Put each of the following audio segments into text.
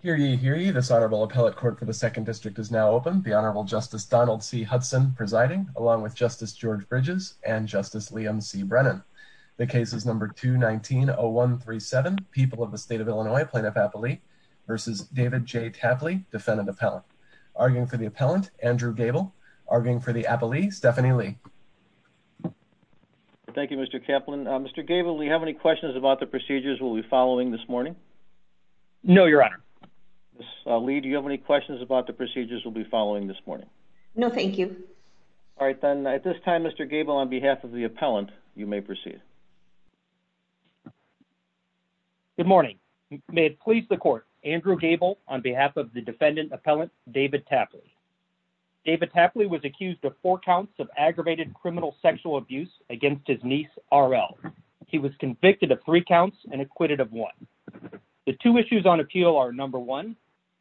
Hear ye, hear ye. This Honorable Appellate Court for the Second District is now open. The Honorable Justice Donald C. Hudson presiding, along with Justice George Bridges and Justice Liam C. Brennan. The case is number 219-0137, People of the State of Illinois, Plaintiff Appellee v. David J. Tapley, Defendant Appellant. Arguing for the Appellant, Andrew Gable. Arguing for the Appellee, Stephanie Lee. Thank you, Mr. Kaplan. Mr. Gable, do we have any questions about the procedures we'll be following this morning? No, Your Honor. Ms. Lee, do you have any questions about the procedures we'll be following this morning? No, thank you. All right, then, at this time, Mr. Gable, on behalf of the Appellant, you may proceed. Good morning. May it please the Court, Andrew Gable on behalf of the Defendant Appellant, David Tapley. David Tapley was accused of four counts of aggravated criminal sexual abuse against his niece, R.L. He was convicted of three counts and acquitted of one. The two issues on appeal are, number one,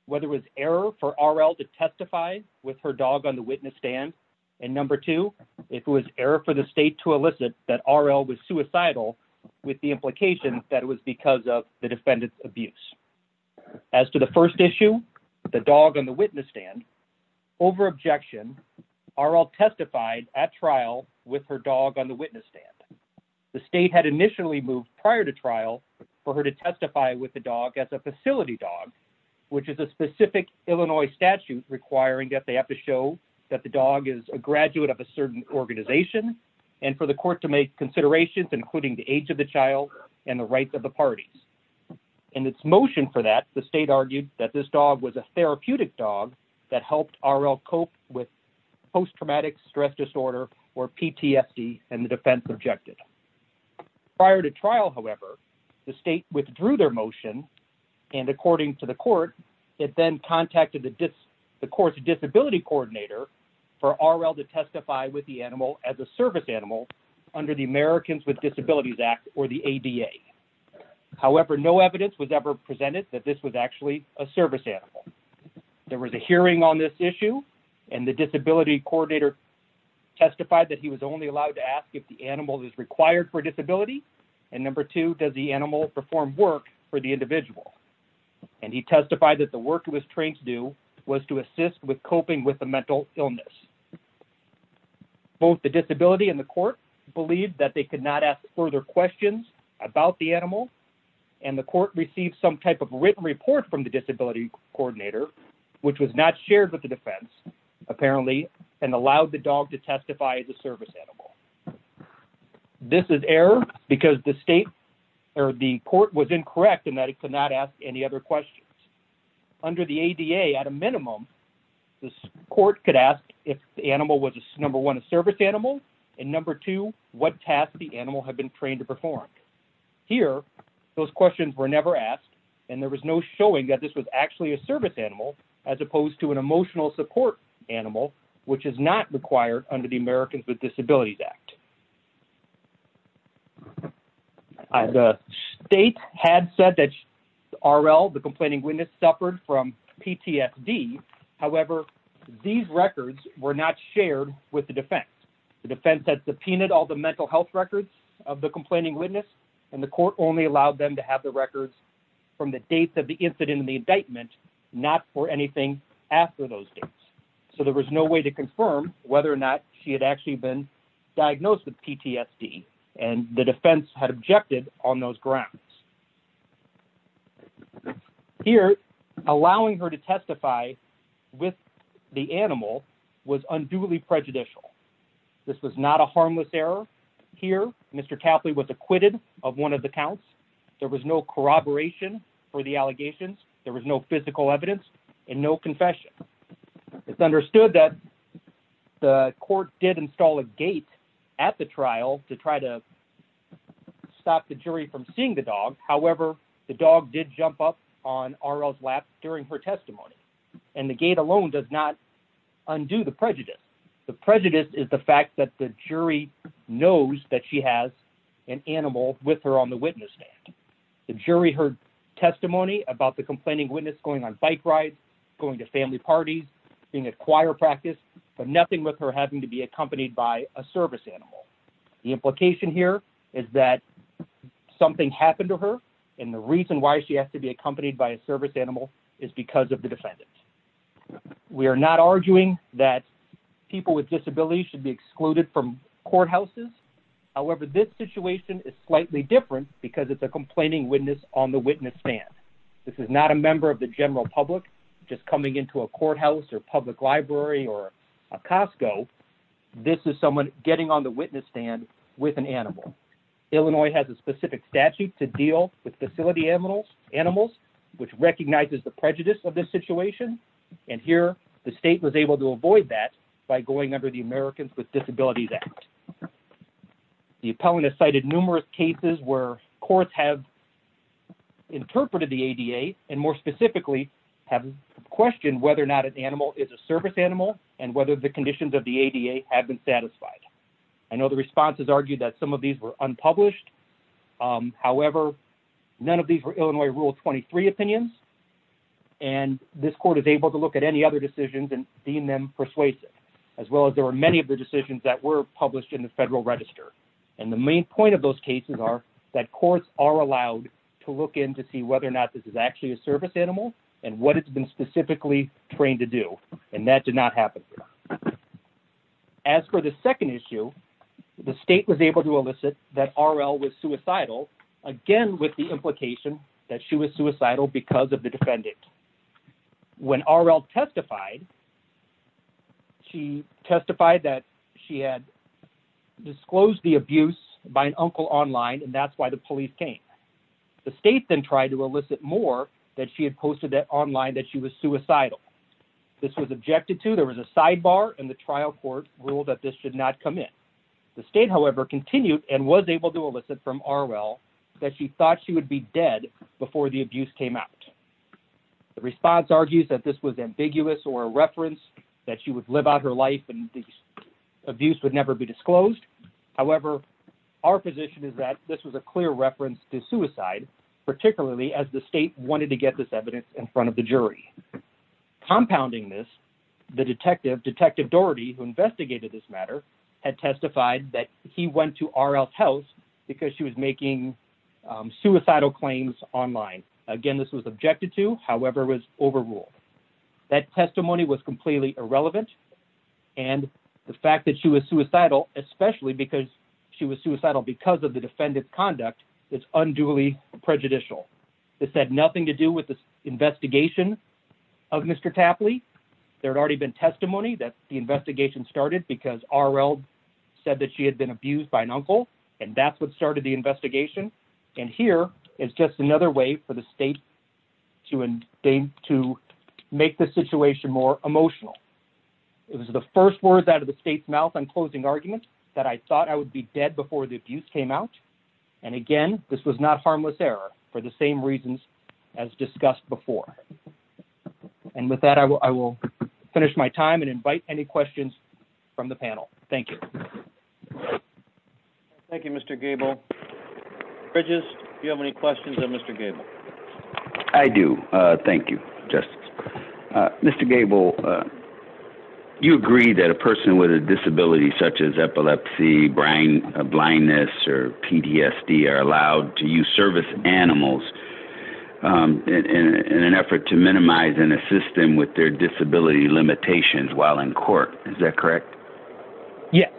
whether it was error for R.L. to testify with her dog on the witness stand, and number two, if it was error for the State to elicit that R.L. was suicidal with the implication that it was because of the Defendant's abuse. As to the first issue, the dog on the witness stand, over-objection, R.L. testified at trial with her dog on the witness stand. The State had initially moved prior to trial for her to testify with the dog as a facility dog, which is a specific Illinois statute requiring that they have to show that the dog is a graduate of a certain organization and for the Court to make considerations including the age of the child and the rights of the parties. In its motion for that, the State argued that this dog was a therapeutic dog that helped R.L. cope with post-traumatic stress disorder, or PTSD, and the defense objected. Prior to trial, however, the State withdrew their motion and, according to the Court, it then contacted the Court's disability coordinator for R.L. to testify with the animal as a service animal under the Americans with Disabilities Act, or the ADA. However, no evidence was ever presented that this was actually a testified that he was only allowed to ask if the animal is required for disability, and number two, does the animal perform work for the individual, and he testified that the work it was trained to do was to assist with coping with the mental illness. Both the disability and the Court believed that they could not ask further questions about the animal, and the Court received some type of written report from the disability coordinator, which was not shared with the defense, apparently, and allowed the dog to testify as a service animal. This is error, because the Court was incorrect in that it could not ask any other questions. Under the ADA, at a minimum, the Court could ask if the animal was, number one, a service animal, and number two, what tasks the animal had been trained to perform. Here, those questions were never asked, and there was no showing that this was actually a service animal, as opposed to an emotional support animal, which is not required under the Americans with Disabilities Act. The state had said that R.L., the complaining witness, suffered from PTSD. However, these records were not shared with the defense. The defense had subpoenaed all the mental health records of the complaining witness, and the Court only allowed them to have the records from the dates of the incident and the indictment, not for anything after those dates. So there was no way to confirm whether or not she had actually been diagnosed with PTSD, and the defense had objected on those grounds. Here, allowing her to testify with the animal was unduly prejudicial. This was not a harmless error. Here, Mr. Tapley was acquitted of one of the counts. There was no corroboration for the allegations. There was no physical evidence and no confession. It's understood that the Court did install a gate at the trial to try to stop the jury from seeing the dog. However, the dog did jump up on R.L.'s lap during her testimony, and the gate alone does not undo the prejudice. The prejudice is the fact that the jury knows that she has an animal with her on the witness stand. The jury heard testimony about the complaining witness going on bike rides, going to family parties, being at choir practice, but nothing with her having to be accompanied by a service animal. The implication here is that something happened to her, and the reason why she has to be accompanied by a service animal is because of the defendant. We are not arguing that people with disabilities should be excluded from courthouses. However, this situation is slightly different because it's a complaining witness on the witness stand. This is not a member of the general public just coming into a courthouse or public library or a Costco. This is someone getting on the witness stand with an animal. Illinois has a specific statute to deal with facility animals, which recognizes the prejudice of this situation, and here the state was able to avoid that by going under the Americans with Disabilities Act. The appellant has cited numerous cases where courts have interpreted the ADA and more specifically have questioned whether or not an animal is a service animal and whether the conditions of the ADA have been satisfied. I know the responses argued that some of these were unpublished. However, none of these were Illinois Rule 23 opinions, and this court is able to look at any other decisions and deem them persuasive, as well as there were many of the decisions that were published in the Federal Register, and the main point of those cases are that courts are allowed to look in to see whether or not this is actually a service animal and what it's been specifically trained to do, and that did not happen. As for the second issue, the state was able to elicit that R.L. was suicidal, again with the implication that she was suicidal because of the defendant. When R.L. testified, she testified that she had disclosed the abuse by an uncle online, and that's why the police came. The state then tried to elicit more that she had posted online that she was suicidal. This was objected to. There was a sidebar, and the trial court ruled that this should not come in. The state, however, continued and was able to elicit from R.L. that she thought she would be dead before the abuse came out. The response argues that this was ambiguous or a reference, that she would live out her life and the abuse would never be disclosed. However, our position is that this was a clear reference to suicide, particularly as the state wanted to get this evidence in front of the jury. Compounding this, the detective, Detective Doherty, who investigated this matter, had testified that he went to R.L.'s house because she was making suicidal claims online. Again, this was objected to, however, was overruled. That testimony was completely irrelevant, and the fact that she was suicidal, especially because she was suicidal because of the defendant's conduct, is unduly prejudicial. This had nothing to do with the investigation of Mr. Tapley. There had already been testimony that the investigation started because R.L. said that she had been abused by an uncle, and that's what started the investigation, and here is just another way for the state to make the situation more emotional. It was the first words out of the state's mouth on closing argument that I thought I would be dead before the abuse came out, and again, this was not harmless error for the same reasons as discussed before. And with that, I will finish my time and invite any questions from the panel. Thank you. Thank you, Mr. Gable. Bridges, do you have any questions of Mr. Gable? I do. Thank you, Justice. Mr. Gable, you agree that a person with a disability such as epilepsy, blindness, or PTSD are allowed to use service animals in an effort to minimize and assist them with their disability limitations while in court. Is that correct? Yes.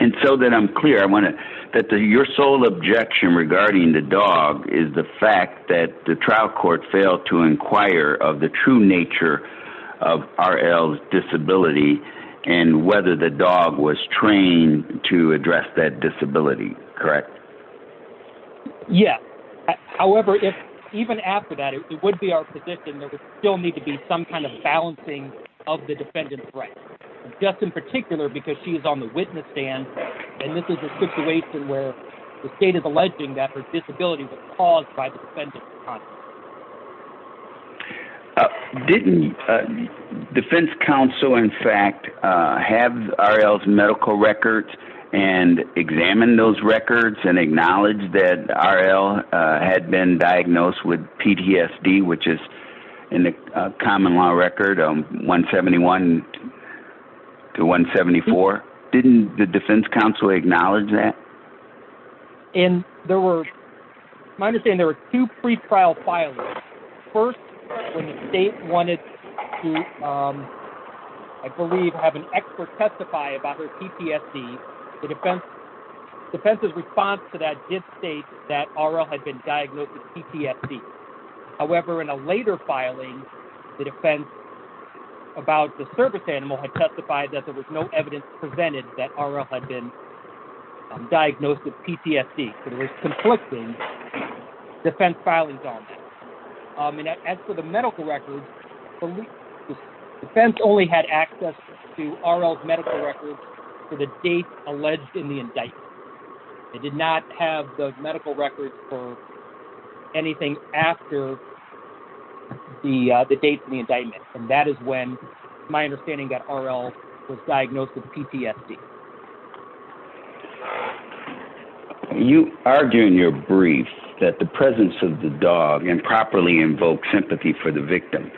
And so that I'm clear, I want to, that your sole objection regarding the dog is the fact that the trial court failed to inquire of the true nature of R.L.'s disability and whether the dog was trained to address that disability, correct? Yes. However, if even after that, it would be still need to be some kind of balancing of the defendant's rights, just in particular because she is on the witness stand, and this is a situation where the state is alleging that her disability was caused by the defendant. Didn't defense counsel, in fact, have R.L.'s medical records and examine those records and acknowledge that R.L. had been diagnosed with in the common law record 171 to 174? Didn't the defense counsel acknowledge that? And there were, my understanding, there were two pre-trial filings. First, when the state wanted to, I believe, have an expert testify about her PTSD, the defense's response to that did state that R.L. had been diagnosed with PTSD. However, in a later filing, the defense about the service animal had testified that there was no evidence presented that R.L. had been diagnosed with PTSD. So there was conflicting defense filings on that. As for the medical records, the defense only had access to R.L.'s medical records for the date alleged in the indictment. They did not have the medical records for anything after the date of the indictment, and that is when, my understanding, that R.L. was diagnosed with PTSD. You argue in your brief that the presence of the dog improperly invoked sympathy for the victim.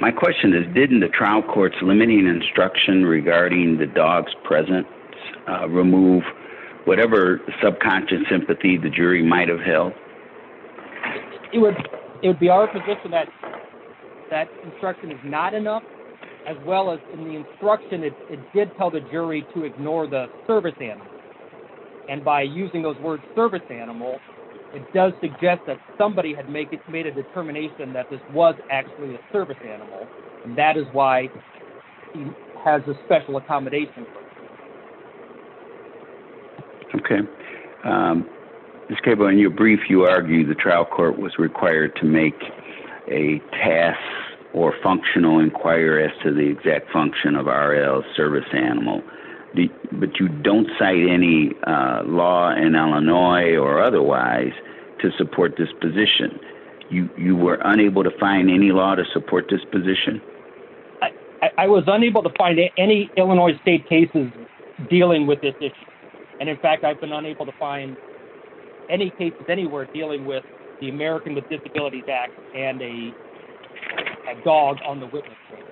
My question is, didn't the trial court's limiting instruction regarding the dog's presence remove whatever subconscious sympathy the jury might have held? It would be our position that that instruction is not enough, as well as in the instruction it did tell the jury to ignore the service animal. And by using those words service animal, it does suggest that somebody had made a determination that this was actually a service animal, and that is why he has a special accommodation. Okay. Mr. Capo, in your brief you argue the trial court was required to make a task or functional inquire as to the exact function of R.L.'s service animal, but you don't cite any law in Illinois or otherwise to support this position. You were unable to find any law to support this position. I was unable to find any Illinois state cases dealing with this issue, and in fact I've been unable to find any cases anywhere dealing with the American with Disabilities Act and a dog on the witness stand.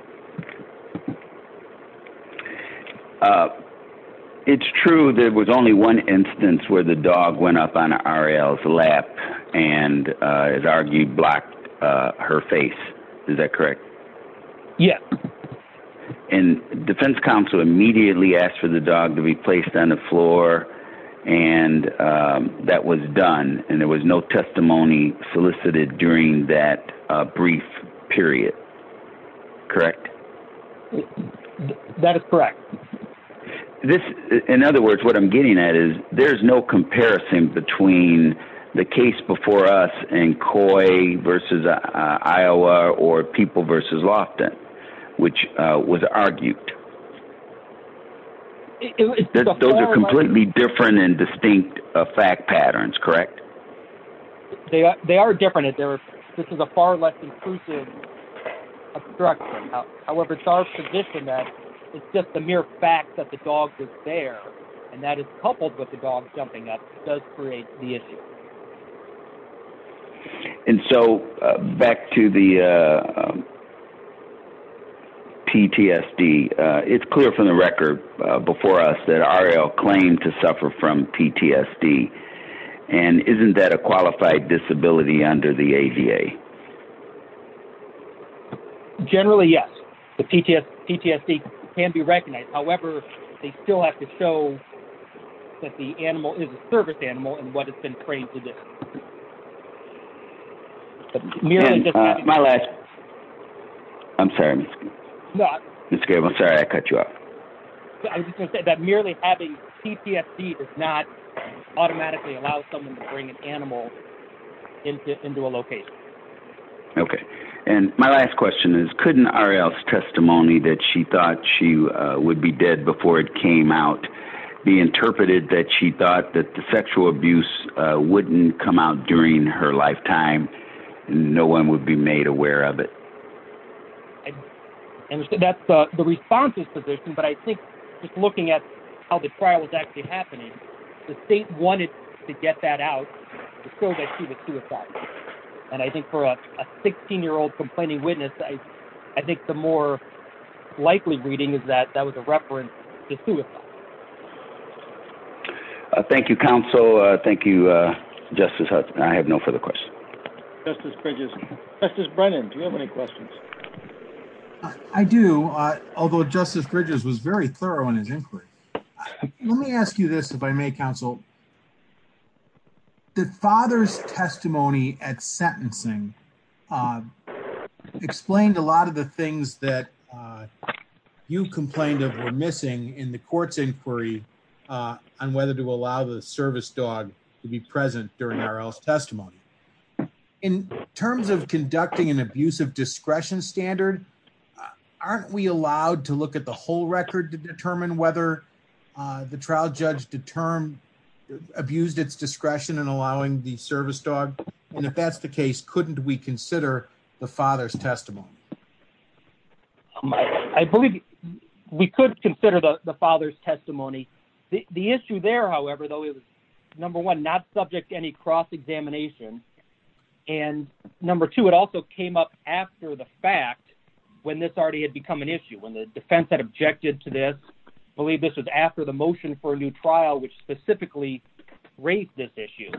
It's true there was only one instance where the dog went up on R.L.'s lap and is argued blocked her face. Is that correct? Yeah. And defense counsel immediately asked for the dog to be placed on the floor, and that was done, and there was no testimony solicited during that brief period. Correct? That is correct. This, in other words, what I'm getting at is there's no versus Iowa or people versus Lofton, which was argued. Those are completely different and distinct fact patterns, correct? They are different. This is a far less inclusive structure. However, it's our position that it's just a mere fact that the dog was there, and that is coupled with the dog jumping up does create the issue. Okay. And so back to the PTSD, it's clear from the record before us that R.L. claimed to suffer from PTSD, and isn't that a qualified disability under the ADA? Generally, yes. The PTSD can be recognized. However, they still have to show that the dog was there. I'm sorry. I cut you off. I was just going to say that merely having PTSD does not automatically allow someone to bring an animal into a location. Okay. And my last question is, couldn't R.L.'s testimony that she thought she would be dead before it came out be interpreted that she thought that the sexual abuse wouldn't come out during her lifetime and no one would be made aware of it? That's the response's position, but I think just looking at how the trial was actually happening, the state wanted to get that out to show that she was suicidal. And I think for a 16-year-old complaining witness, I think the more likely reading is that that was a reference to suicide. Thank you, counsel. Thank you, Justice Hudson. I have no further questions. Justice Bridges. Justice Brennan, do you have any questions? I do, although Justice Bridges was very thorough in his inquiry. Let me ask you this, if I may, counsel. The father's testimony at sentencing explained a lot of the things that you complained of were missing in the court's inquiry on whether to allow the service dog to be present during R.L.'s testimony. In terms of conducting an abuse of discretion standard, aren't we allowed to look at the whole record to determine whether the trial judge abused its discretion in allowing the service dog? And if that's the case, couldn't we consider the father's testimony? I believe we could consider the father's testimony. The issue there, however, though, it was number one, not subject to any cross-examination. And number two, it also came up after the fact when this already had become an issue, when the defense had objected to this. I believe this was after the motion for a new trial, which specifically raised this issue.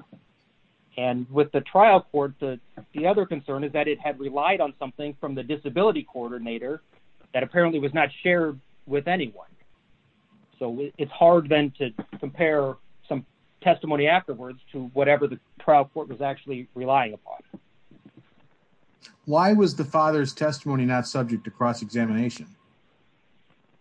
And with the trial court, the other concern is that it had relied on something from the disability coordinator that apparently was not shared with anyone. So it's hard then to compare some testimony afterwards to whatever the trial court was actually relying upon. Why was the father's testimony not subject to cross-examination?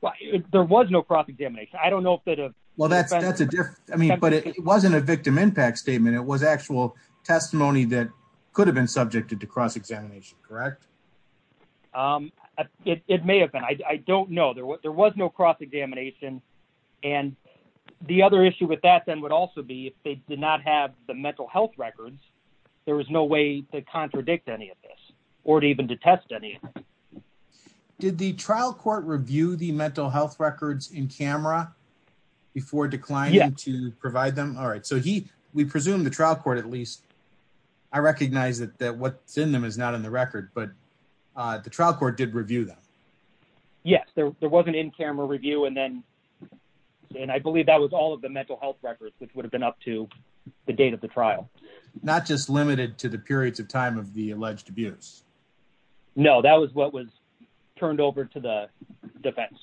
Well, there was no cross-examination. I don't know if that... Well, that's a different... I mean, but it wasn't a victim impact statement. It was actual testimony that could have been subjected to cross-examination, correct? It may have been. I don't know. There was no cross-examination. And the other issue with that then would also be if they did not have the mental health records, there was no way to contradict any of this or even to test any of it. Did the trial court review the mental health records in camera before declining to provide them? All right. So we presume the trial court, at least, I recognize that what's in them is not in the record, but the trial court did review them. Yes. There was an in-camera review. And I believe that was all of the mental health records, which would have been up to the date of the trial. Not just limited to the periods of time of the alleged abuse. No, that was what was turned over to the defense.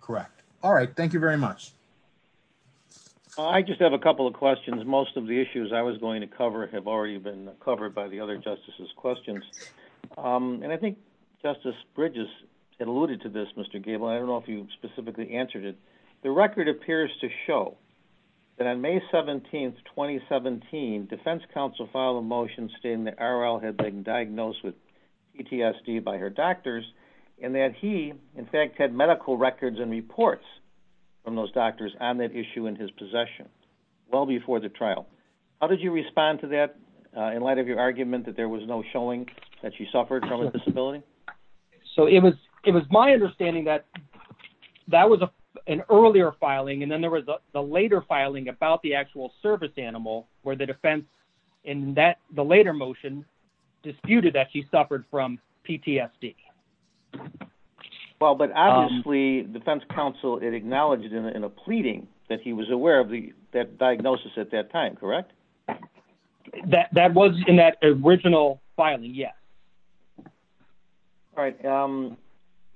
Correct. All right. Thank you very much. I just have a couple of questions. Most of the issues I was going to cover have already been covered by the other justices' questions. And I think Justice Bridges alluded to this, Mr. Gable. I don't know if you specifically answered it. The record appears to show that on May 17th, 2017, defense counsel filed a motion stating that Arielle had been diagnosed with PTSD by her doctors and that he, in fact, had medical records and reports from those doctors on that issue in his possession well before the trial. How did you respond to that in light of your argument that there was no showing that she suffered from a disability? So it was my understanding that that was an earlier filing. And then there was the later filing about the actual service animal where the defense in the later motion disputed that she suffered from PTSD. Well, but obviously, defense counsel, it acknowledged in a pleading that he was aware of that diagnosis at that time, correct? That was in that original filing, yes. All right.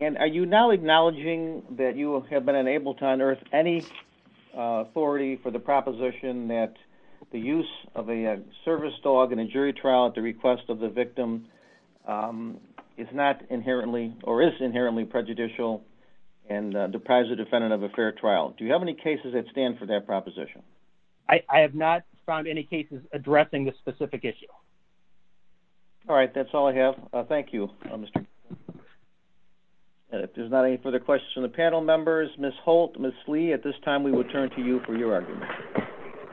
And are you now acknowledging that you have been unable to unearth any authority for the proposition that the use of a service dog in a jury trial at the request of the victim is not inherently or is inherently prejudicial and deprives the defendant of a fair trial? Do you have any cases that stand for that proposition? I have not found any cases addressing this specific issue. All right, that's all I have. Thank you, Mr. There's not any further questions from the panel members. Ms. Holt, Ms. Lee, at this time, we will turn to you for your argument.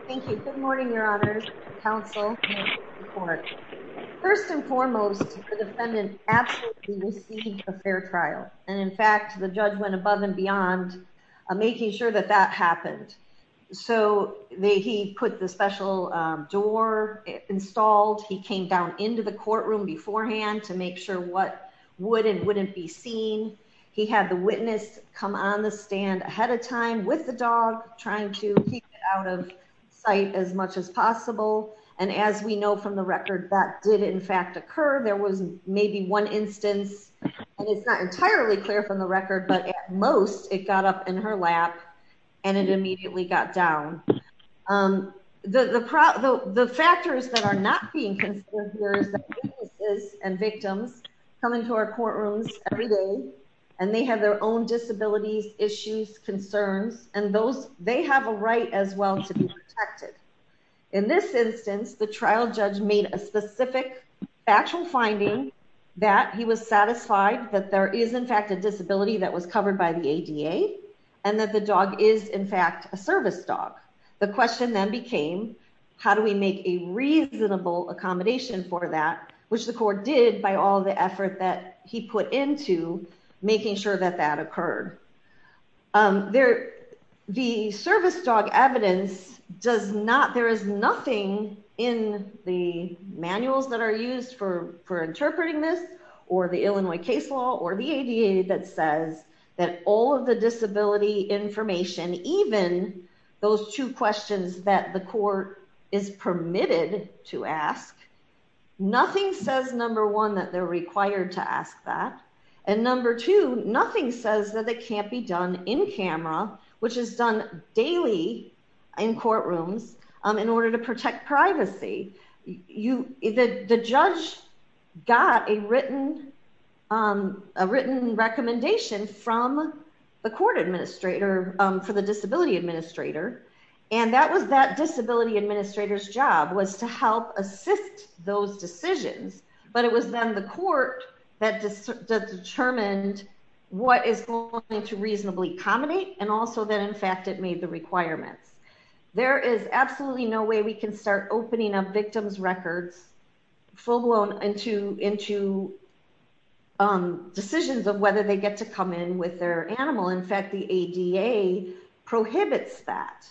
Thank you. Good morning, your honors, counsel. First and foremost, the defendant absolutely received a fair trial. And in fact, the judge went above and beyond making sure that that happened. So they he put the special door installed. He came down into the courtroom beforehand to make sure what would and wouldn't be seen. He had the witness come on the stand ahead of time with the dog, trying to keep it out of sight as much as possible. And as we know from the record, that did in fact occur. There was maybe one instance, and it's not entirely clear from the record, but at most it got up in her lap and it immediately got down. The factors that are not being considered here is the witnesses and victims coming to our courtrooms every day, and they have their own disabilities, issues, concerns, and those they have a right as well to be protected. In this instance, the trial judge made a specific actual finding that he was satisfied that there is in fact, a disability that was covered by the ADA, and that the dog is in fact, a service dog. The question then became, how do we make a reasonable accommodation for that, which the court did by all the effort that he put into making sure that that occurred. The service dog evidence does not, there is nothing in the manuals that are used for interpreting this, or the Illinois case law, or the ADA that says that all of the disability information, even those two questions that the court is permitted to ask, nothing says, number in camera, which is done daily in courtrooms in order to protect privacy. The judge got a written recommendation from the court administrator for the disability administrator, and that was that disability administrator's job was to help assist those decisions, but it was then the court that determined what is going to reasonably accommodate, and also that in fact, it made the requirements. There is absolutely no way we can start opening up victims records full blown into decisions of whether they get to come in with their animal. In fact, the ADA prohibits that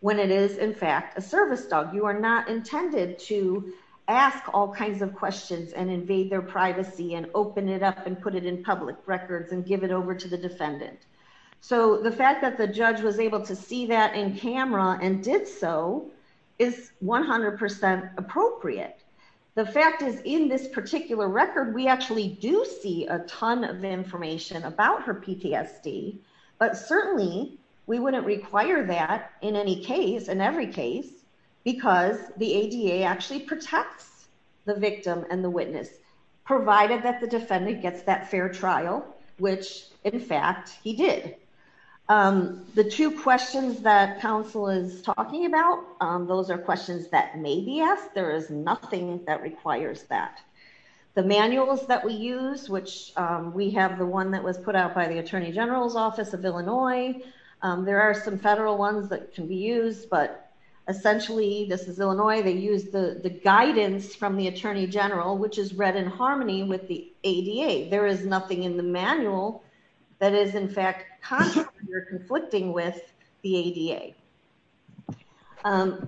when it is in fact, a service dog. You are not intended to ask all kinds of and put it in public records and give it over to the defendant. So the fact that the judge was able to see that in camera and did so is 100% appropriate. The fact is in this particular record, we actually do see a ton of information about her PTSD, but certainly we would not require that in any case, in every case, because the ADA actually gets that fair trial, which in fact he did. The two questions that counsel is talking about, those are questions that may be asked. There is nothing that requires that. The manuals that we use, which we have the one that was put out by the attorney general's office of Illinois. There are some federal ones that can be used, but essentially this is Illinois. They use the guidance from the attorney general, which is read in harmony with the ADA. There is nothing in the manual that is in fact conflicting with the ADA.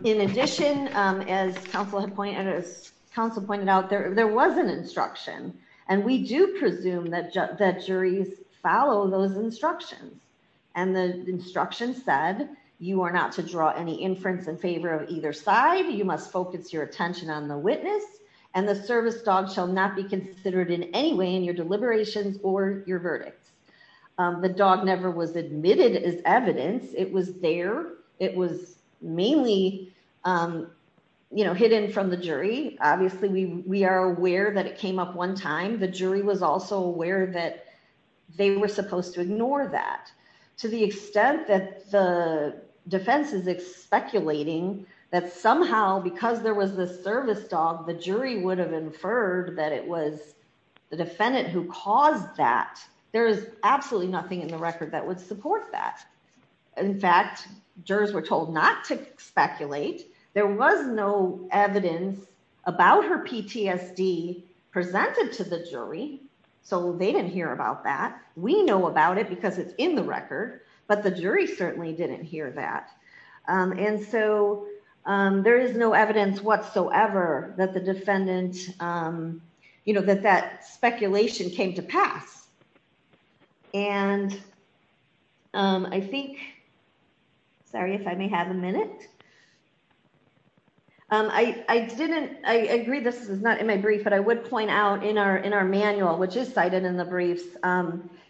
In addition, as counsel pointed out, there was an instruction, and we do presume that juries follow those instructions. And the instruction said, you are not to draw any in favor of either side. You must focus your attention on the witness, and the service dog shall not be considered in any way in your deliberations or your verdicts. The dog never was admitted as evidence. It was there. It was mainly hidden from the jury. Obviously, we are aware that it came up one time. The jury was also aware that they were supposed to ignore that. To the extent that the defense is speculating that somehow because there was this service dog, the jury would have inferred that it was the defendant who caused that. There is absolutely nothing in the record that would support that. In fact, jurors were told not to speculate. There was no evidence about her PTSD presented to the jury, so they didn't hear about that. We know about it because it's in the record, but the jury certainly didn't hear that. And so there is no evidence whatsoever that the defendant, you know, that that speculation came to pass. And I think, sorry if I may have a minute. I didn't, I agree this is not in my brief, but I would point out in our in our manual, which is cited in the briefs,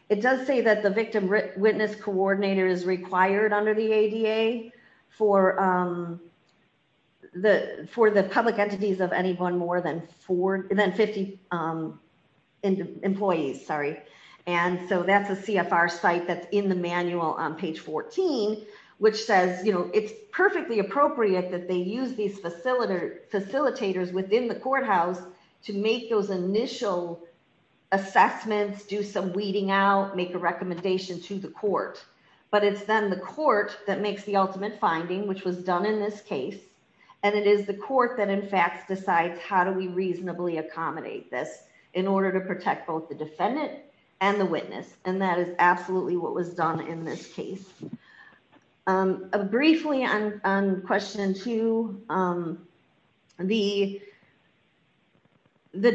it does say that the victim witness coordinator is required under the ADA for the public entities of anyone more than 50 employees. And so that's a CFR site that's in the manual on page 14, which says, you know, it's perfectly appropriate that they use these facilitators within the jurisdiction to make those initial assessments, do some weeding out, make a recommendation to the court. But it's then the court that makes the ultimate finding, which was done in this case. And it is the court that, in fact, decides how do we reasonably accommodate this in order to protect both the defendant and the witness. And that is absolutely what was done in this case. Briefly on question two, the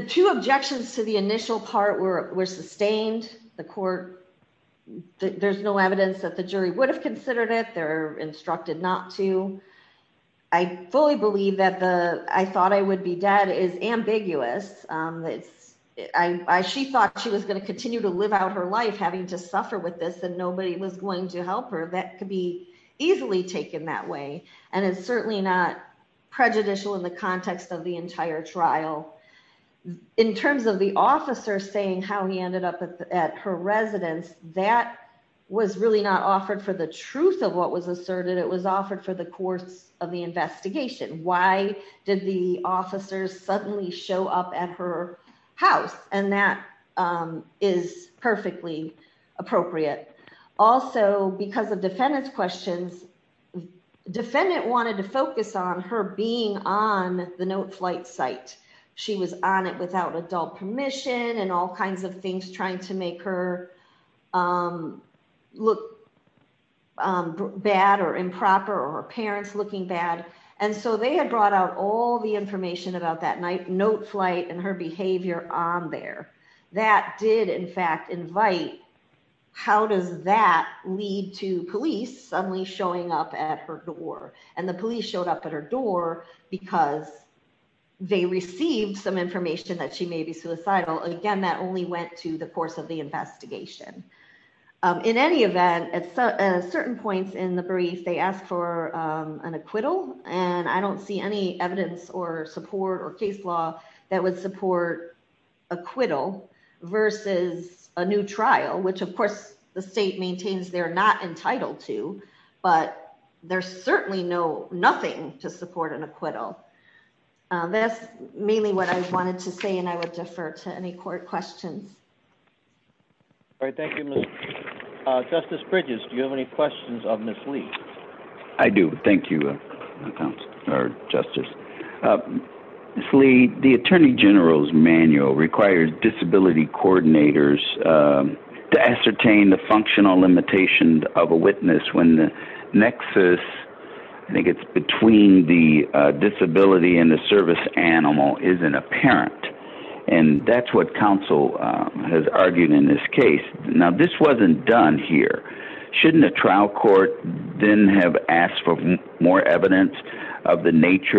two objections to the initial part were sustained. The court, there's no evidence that the jury would have considered it. They're instructed not to. I fully believe that the, I thought I would be dead is ambiguous. She thought she was going to continue to live out her life having to suffer with this, and nobody was going to easily take it that way. And it's certainly not prejudicial in the context of the entire trial. In terms of the officer saying how he ended up at her residence, that was really not offered for the truth of what was asserted. It was offered for the course of the investigation. Why did the officers suddenly show up at her house? And that is perfectly appropriate. Also, because of defendant's questions, defendant wanted to focus on her being on the note flight site. She was on it without adult permission and all kinds of things trying to make her look bad or improper or her parents looking bad. And so they had brought out all the information about that note flight and her behavior on there. That did, in fact, invite how does that lead to police suddenly showing up at her door? And the police showed up at her door because they received some information that she may be suicidal. Again, that only went to the course of the investigation. In any event, at certain points in the brief, they asked for an acquittal, and I don't see any evidence or support or case law that would support acquittal versus a new not entitled to, but there's certainly nothing to support an acquittal. That's mainly what I wanted to say, and I would defer to any court questions. All right. Thank you. Justice Bridges, do you have any questions of Ms. Lee? I do. Thank you, Justice. Ms. Lee, the attorney general's manual required disability coordinators to ascertain the functional limitation of a witness when the nexus, I think it's between the disability and the service animal, isn't apparent. And that's what counsel has argued in this case. Now, this wasn't done here. Shouldn't a trial court then have asked for more evidence of the disability?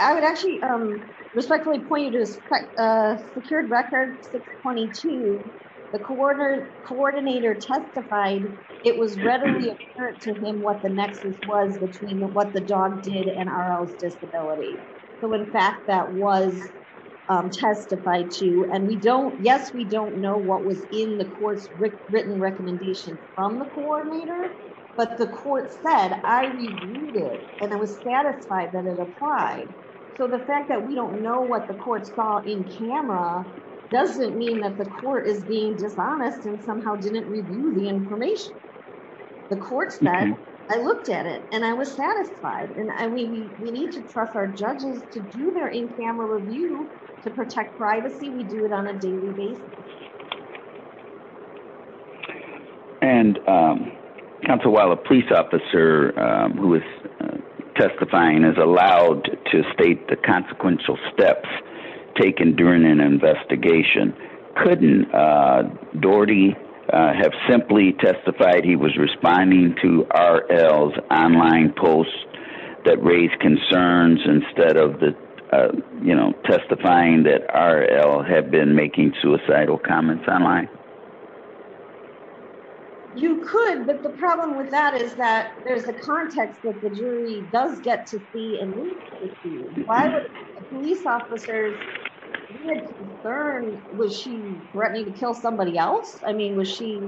I would actually respectfully point you to Secured Record 622. The coordinator testified it was readily apparent to him what the nexus was between what the dog did and RL's disability. So, in fact, that was testified to, and yes, we don't know what was in the court's written recommendation from the coordinator, but the court said I reviewed it and I was satisfied that it applied. So, the fact that we don't know what the court saw in camera doesn't mean that the court is being dishonest and somehow didn't review the information. The court said I looked at it and I was satisfied, and we need to trust our judges to do their in-camera review to protect privacy. We do it on a daily basis. And counsel, while a police officer who is testifying is allowed to state the consequential steps taken during an investigation, couldn't Doherty have simply testified he was responding to RL's online posts that raised concerns instead of, you know, testifying that RL had been making suicidal comments online? You could, but the problem with that is that there's the context that the jury does get to see and read the issue. Why would a police officer be concerned? Was she threatening to kill somebody else? I mean, was she?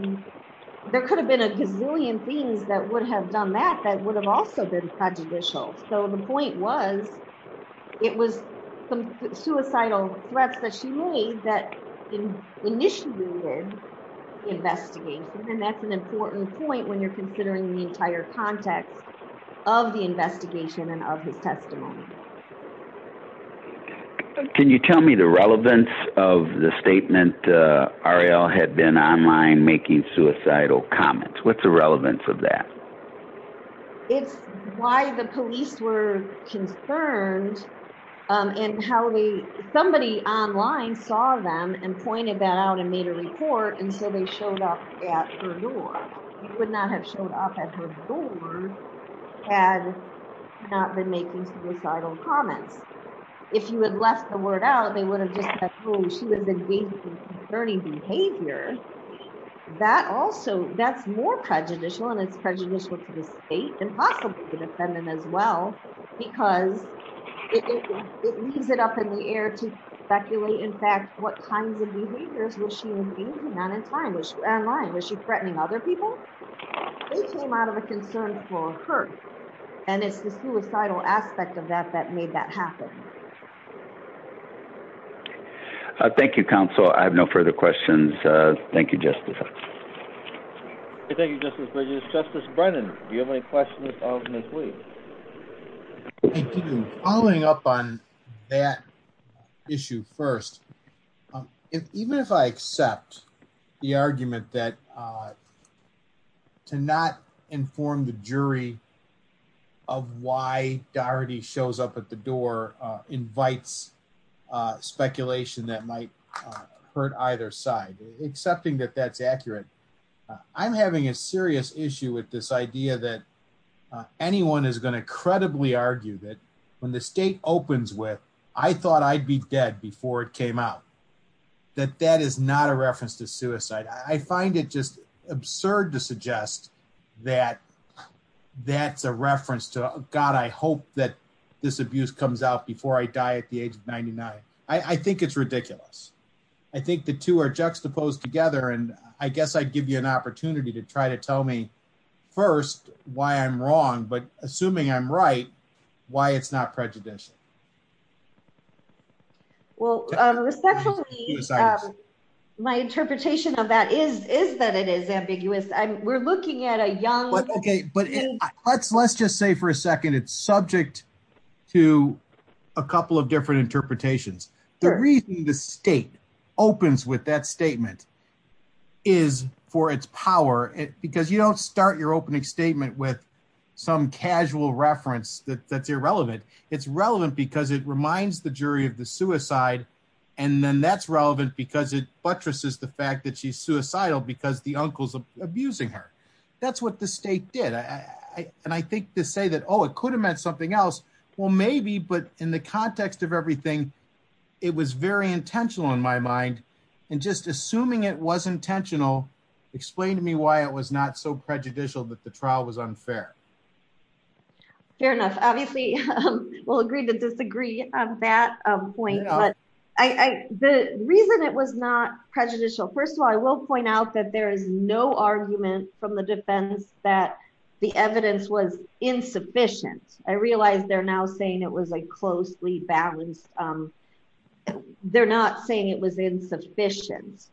There could have been a gazillion things that would have done that that would have also been prejudicial. So, the point was, it was some suicidal threats that she made that initiated the investigation. And that's an important point when you're considering the entire context of the investigation and of his testimony. Can you tell me the relevance of the statement RL had been online making suicidal comments? What's the relevance of that? It's why the police were concerned in how somebody online saw them and pointed that out and made a report and so they showed up at her door. You would not have showed up at her door had not been making suicidal comments. If you had that's more prejudicial and it's prejudicial to the state and possibly the defendant as well, because it leaves it up in the air to speculate, in fact, what kinds of behaviors was she engaging on in time? Was she online? Was she threatening other people? They came out of a concern for her and it's the suicidal aspect of that that made that happen. Thank you, counsel. I have no further questions. Thank you, Justice. Thank you, Justice Bridges. Justice Brennan, do you have any questions of Ms. Lee? Following up on that issue first, even if I accept the argument that to not inform the jury of why Doherty shows up at the door invites speculation that might hurt either side, accepting that that's accurate, I'm having a serious issue with this idea that anyone is going to credibly argue that when the state opens with, I thought I'd be dead before it came out, that that is not a reference to suicide. I find it just absurd to suggest that that's a reference to, God, I hope that this abuse comes out before I die at the age of 99. I think it's ridiculous. I think the two are juxtaposed together and I guess I'd give you an opportunity to try to tell me first why I'm wrong, but assuming I'm right, why it's not prejudicial. Well, respectfully, my interpretation of that is that it is ambiguous. We're looking at a young... Okay, but let's just say for a second it's subject to a couple of different interpretations. The reason the state opens with that statement is for its power because you don't start your statement with some casual reference that's irrelevant. It's relevant because it reminds the jury of the suicide and then that's relevant because it buttresses the fact that she's suicidal because the uncle's abusing her. That's what the state did and I think to say that, oh, it could have meant something else. Well, maybe, but in the context of everything, it was very intentional in my mind and just assuming it was intentional, explain to me why it was not so prejudicial that the trial was unfair. Fair enough. Obviously, we'll agree to disagree on that point, but the reason it was not prejudicial, first of all, I will point out that there is no argument from the defense that the evidence was insufficient. I realize they're now saying it was a closely balanced... They're not saying it was insufficient.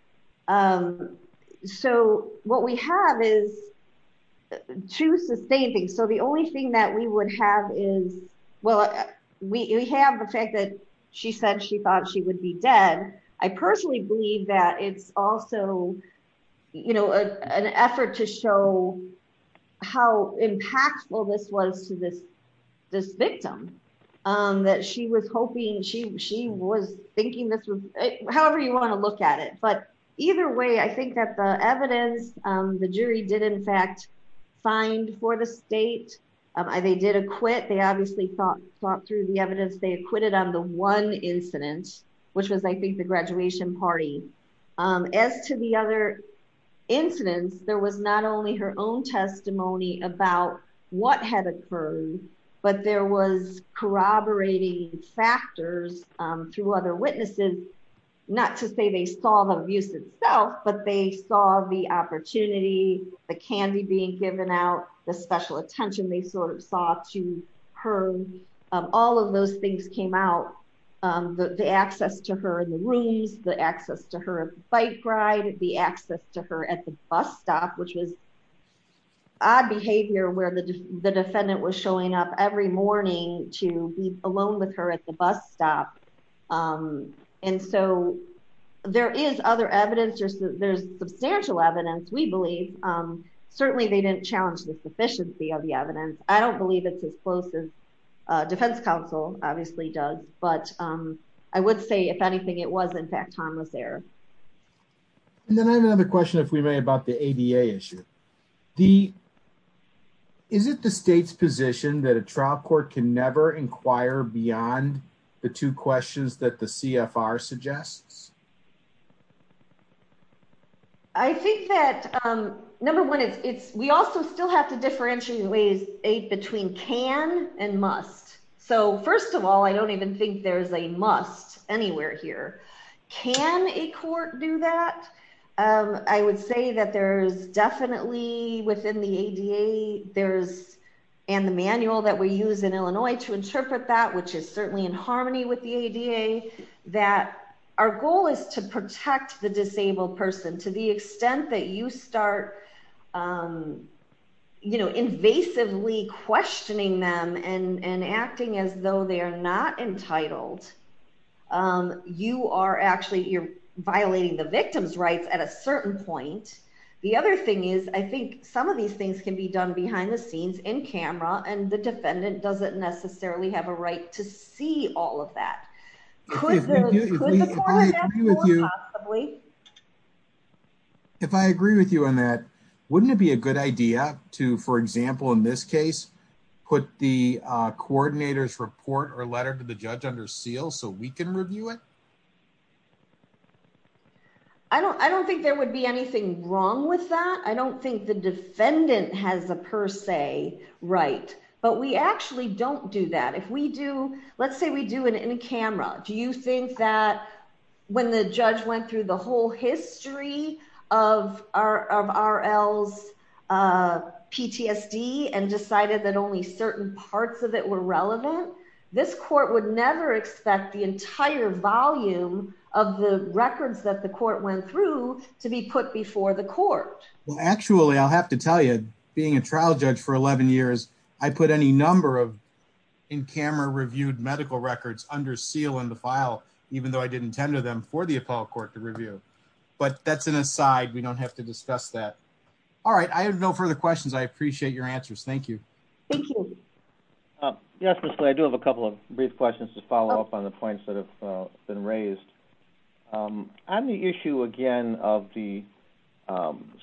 So, what we have is two sustaining... So, the only thing that we would have is... Well, we have the fact that she said she thought she would be dead. I personally believe that it's also an effort to show how impactful this was to this victim, that she was hoping... She was thinking this was... However you want to look at it, but either way, I think that the evidence the jury did, in fact, find for the state. They did acquit. They obviously thought through the evidence. They acquitted on the one incident, which was, I think, the graduation party. As to the other incidents, there was not only her own testimony about what had occurred, but there was corroborating factors through other witnesses. Not to say they saw the abuse itself, but they saw the opportunity, the candy being given out, the special attention they sort of saw to her. All of those things came out. The access to her in the rooms, the access to her bike ride, the access to her at the bus stop, which was odd behavior where the defendant was showing up every morning to be alone with her at the bus stop. And so, there is other evidence. There's substantial evidence, we believe. Certainly, they didn't challenge the sufficiency of the evidence. I don't believe it's as close as defense counsel obviously does, but I would say, if anything, it was, in fact, harmless error. And then I have another question, if we may, about the ADA issue. Is it the state's position that a trial court can never inquire beyond the two questions that the CFR suggests? I think that, number one, we also still have to differentiate between can and must. So, I would say that there's definitely, within the ADA, and the manual that we use in Illinois to interpret that, which is certainly in harmony with the ADA, that our goal is to protect the disabled person to the extent that you start, you know, invasively questioning them and acting as they are not entitled. You are actually, you're violating the victim's rights at a certain point. The other thing is, I think some of these things can be done behind the scenes, in camera, and the defendant doesn't necessarily have a right to see all of that. If I agree with you on that, wouldn't it be a good idea to, for example, in this case, put the coordinator's report or letter to the judge under seal so we can review it? I don't think there would be anything wrong with that. I don't think the defendant has a per se right, but we actually don't do that. If we do, let's say we do it in camera, do you think that when the judge went through the whole history of RL's PTSD and decided that only certain parts of it were relevant, this court would never expect the entire volume of the records that the court went through to be put before the court? Well, actually, I'll have to tell you, being a trial judge for 11 years, I put any number of in-camera reviewed medical records under seal in the file, even though I didn't tender them for the appellate court to review. But that's an aside, we don't have to discuss that. All right, I have no further questions. I appreciate your answers. Thank you. Yes, Mr. Clay, I do have a couple of brief questions to follow up on the points that have been raised. On the issue again of the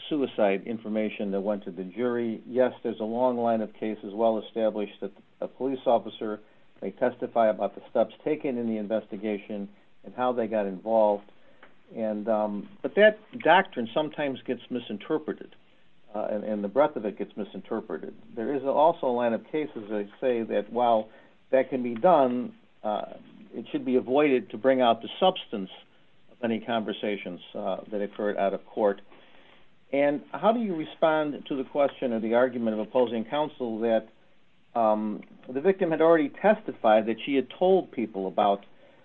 suicide information that went to the jury, yes, there's a long line of cases well established that a police officer may testify about the steps taken in the investigation and how they got involved. But that doctrine sometimes gets misinterpreted, and the breadth of it gets misinterpreted. There is also a line of cases that say that while that can be done, it should be avoided to bring out the substance of any conversations that occurred out of court. And how do you respond to the question of the argument of about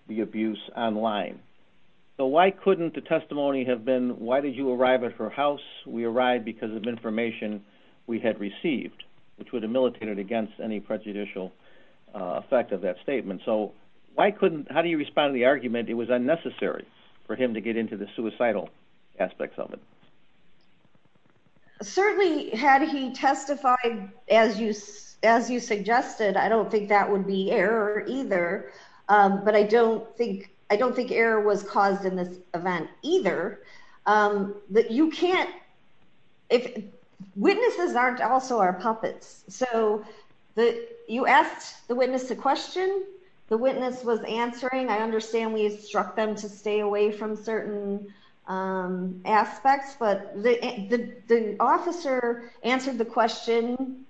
the abuse online? So why couldn't the testimony have been, why did you arrive at her house? We arrived because of information we had received, which would have militated against any prejudicial effect of that statement. So how do you respond to the argument it was unnecessary for him to get into the suicidal aspects of it? Certainly had he testified as you suggested, I don't think that would be error either. But I don't think error was caused in this event either. Witnesses aren't also our puppets. So you asked the witness a question, the witness was answering. I understand we instruct them to stay away from certain aspects, but the officer answered the question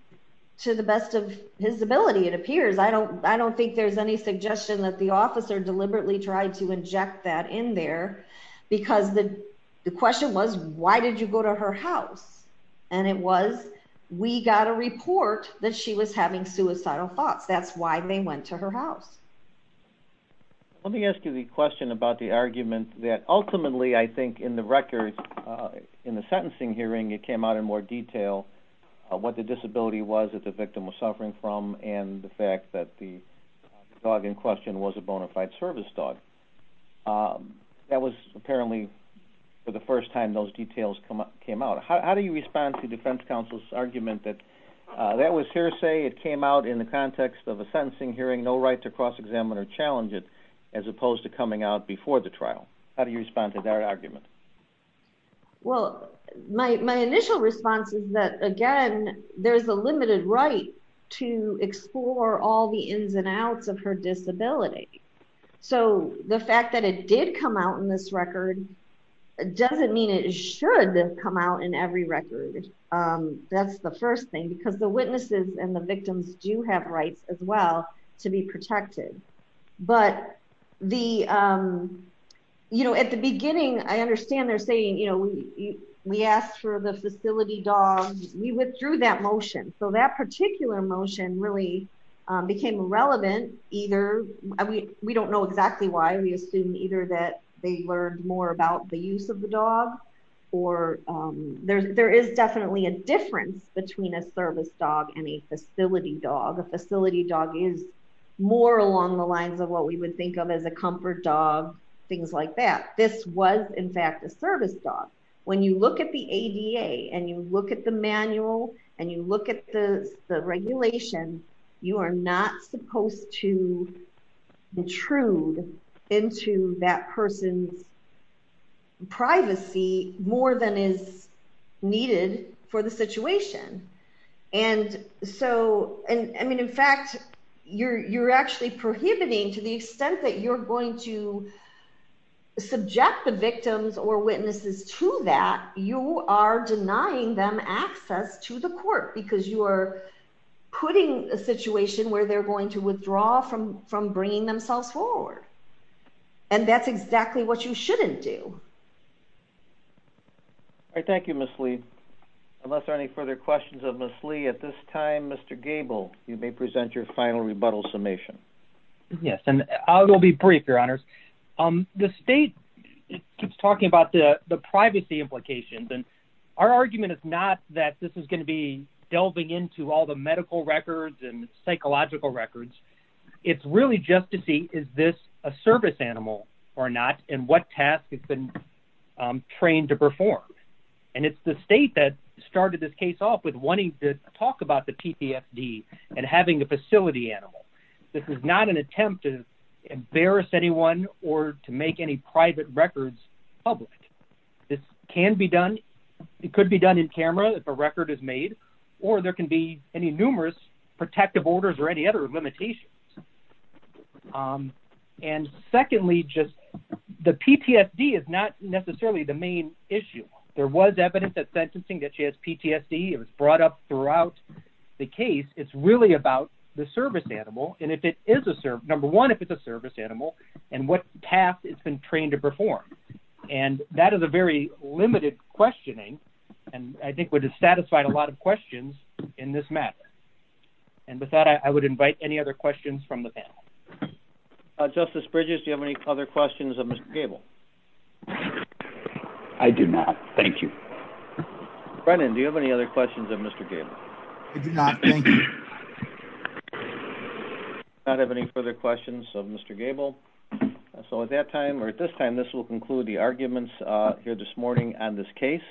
to the best of his ability, it appears. I don't think there's any suggestion that the officer deliberately tried to inject that in there, because the question was, why did you go to her house? And it was, we got a report that she was having suicidal thoughts. That's why they went to her house. Let me ask you the question about the argument that ultimately, I think in the record, in the sentencing hearing, it came out in more detail what the disability was that the victim was suffering from, and the fact that the dog in question was a bona fide service dog. That was apparently for the first time those details came out. How do you respond to defense counsel's argument that that was hearsay, it came out in the context of a sentencing hearing, no right to cross-examine or challenge it, as opposed to coming out before the trial? How do you respond to that argument? Well, my initial response is that, again, there's a limited right to explore all the ins and outs of her disability. So the fact that it did come out in this record doesn't mean it should come out in every record. That's the first thing, because the witnesses and the victims do have rights as well to be protected. But at the beginning, I understand they're saying, we asked for the facility dog. We withdrew that motion. So that particular motion really became irrelevant. We don't know exactly why. We assume either that they learned more about the use of the dog, or there is definitely a difference between a service dog and a facility dog. A facility dog is more along the lines of what we would think of as a comfort dog, things like that. This was, in fact, a service dog. When you look at the ADA and you look at the manual and you look at the regulation, you are not supposed to intrude into that person's needed for the situation. In fact, you're actually prohibiting to the extent that you're going to subject the victims or witnesses to that, you are denying them access to the court because you are putting a situation where they're going to withdraw from bringing themselves forward. And that's exactly what you shouldn't do. All right. Thank you, Ms. Lee. Unless there are any further questions of Ms. Lee at this time, Mr. Gable, you may present your final rebuttal summation. Yes. And I will be brief, Your Honors. The state keeps talking about the privacy implications. And our argument is not that this is going to be delving into all the medical records and psychological records. It's really just to see, is this a service animal or not? And what task has been trained to perform? And it's the state that started this case off with wanting to talk about the PPFD and having a facility animal. This is not an attempt to embarrass anyone or to make any private records public. This can be done. It could be done in camera if a record is made, or there can be any numerous protective orders or any other limitations. And secondly, just the PTSD is not necessarily the main issue. There was evidence that sentencing, that she has PTSD. It was brought up throughout the case. It's really about the service animal. And if it is a service, number one, if it's a service animal and what path it's been trained to perform. And that is a very limited questioning. And I think would have satisfied a lot of questions in this matter. And with that, I would invite any other questions from the panel. Justice Bridges, do you have any other questions of Mr. Gable? I do not. Thank you. Brennan, do you have any other questions of Mr. Gable? I do not. Thank you. I do not have any further questions of Mr. Gable. So at that time or at this time, this will conclude the arguments here this morning on this case.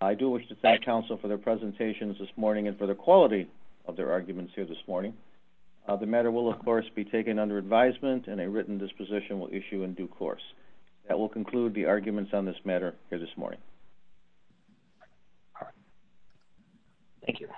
I do wish to thank counsel for their presentations this morning and for the quality of their arguments here this morning. The matter will, of course, be taken under advisement and a written disposition will issue in due course. That will conclude the arguments on this matter here this morning. Thank you.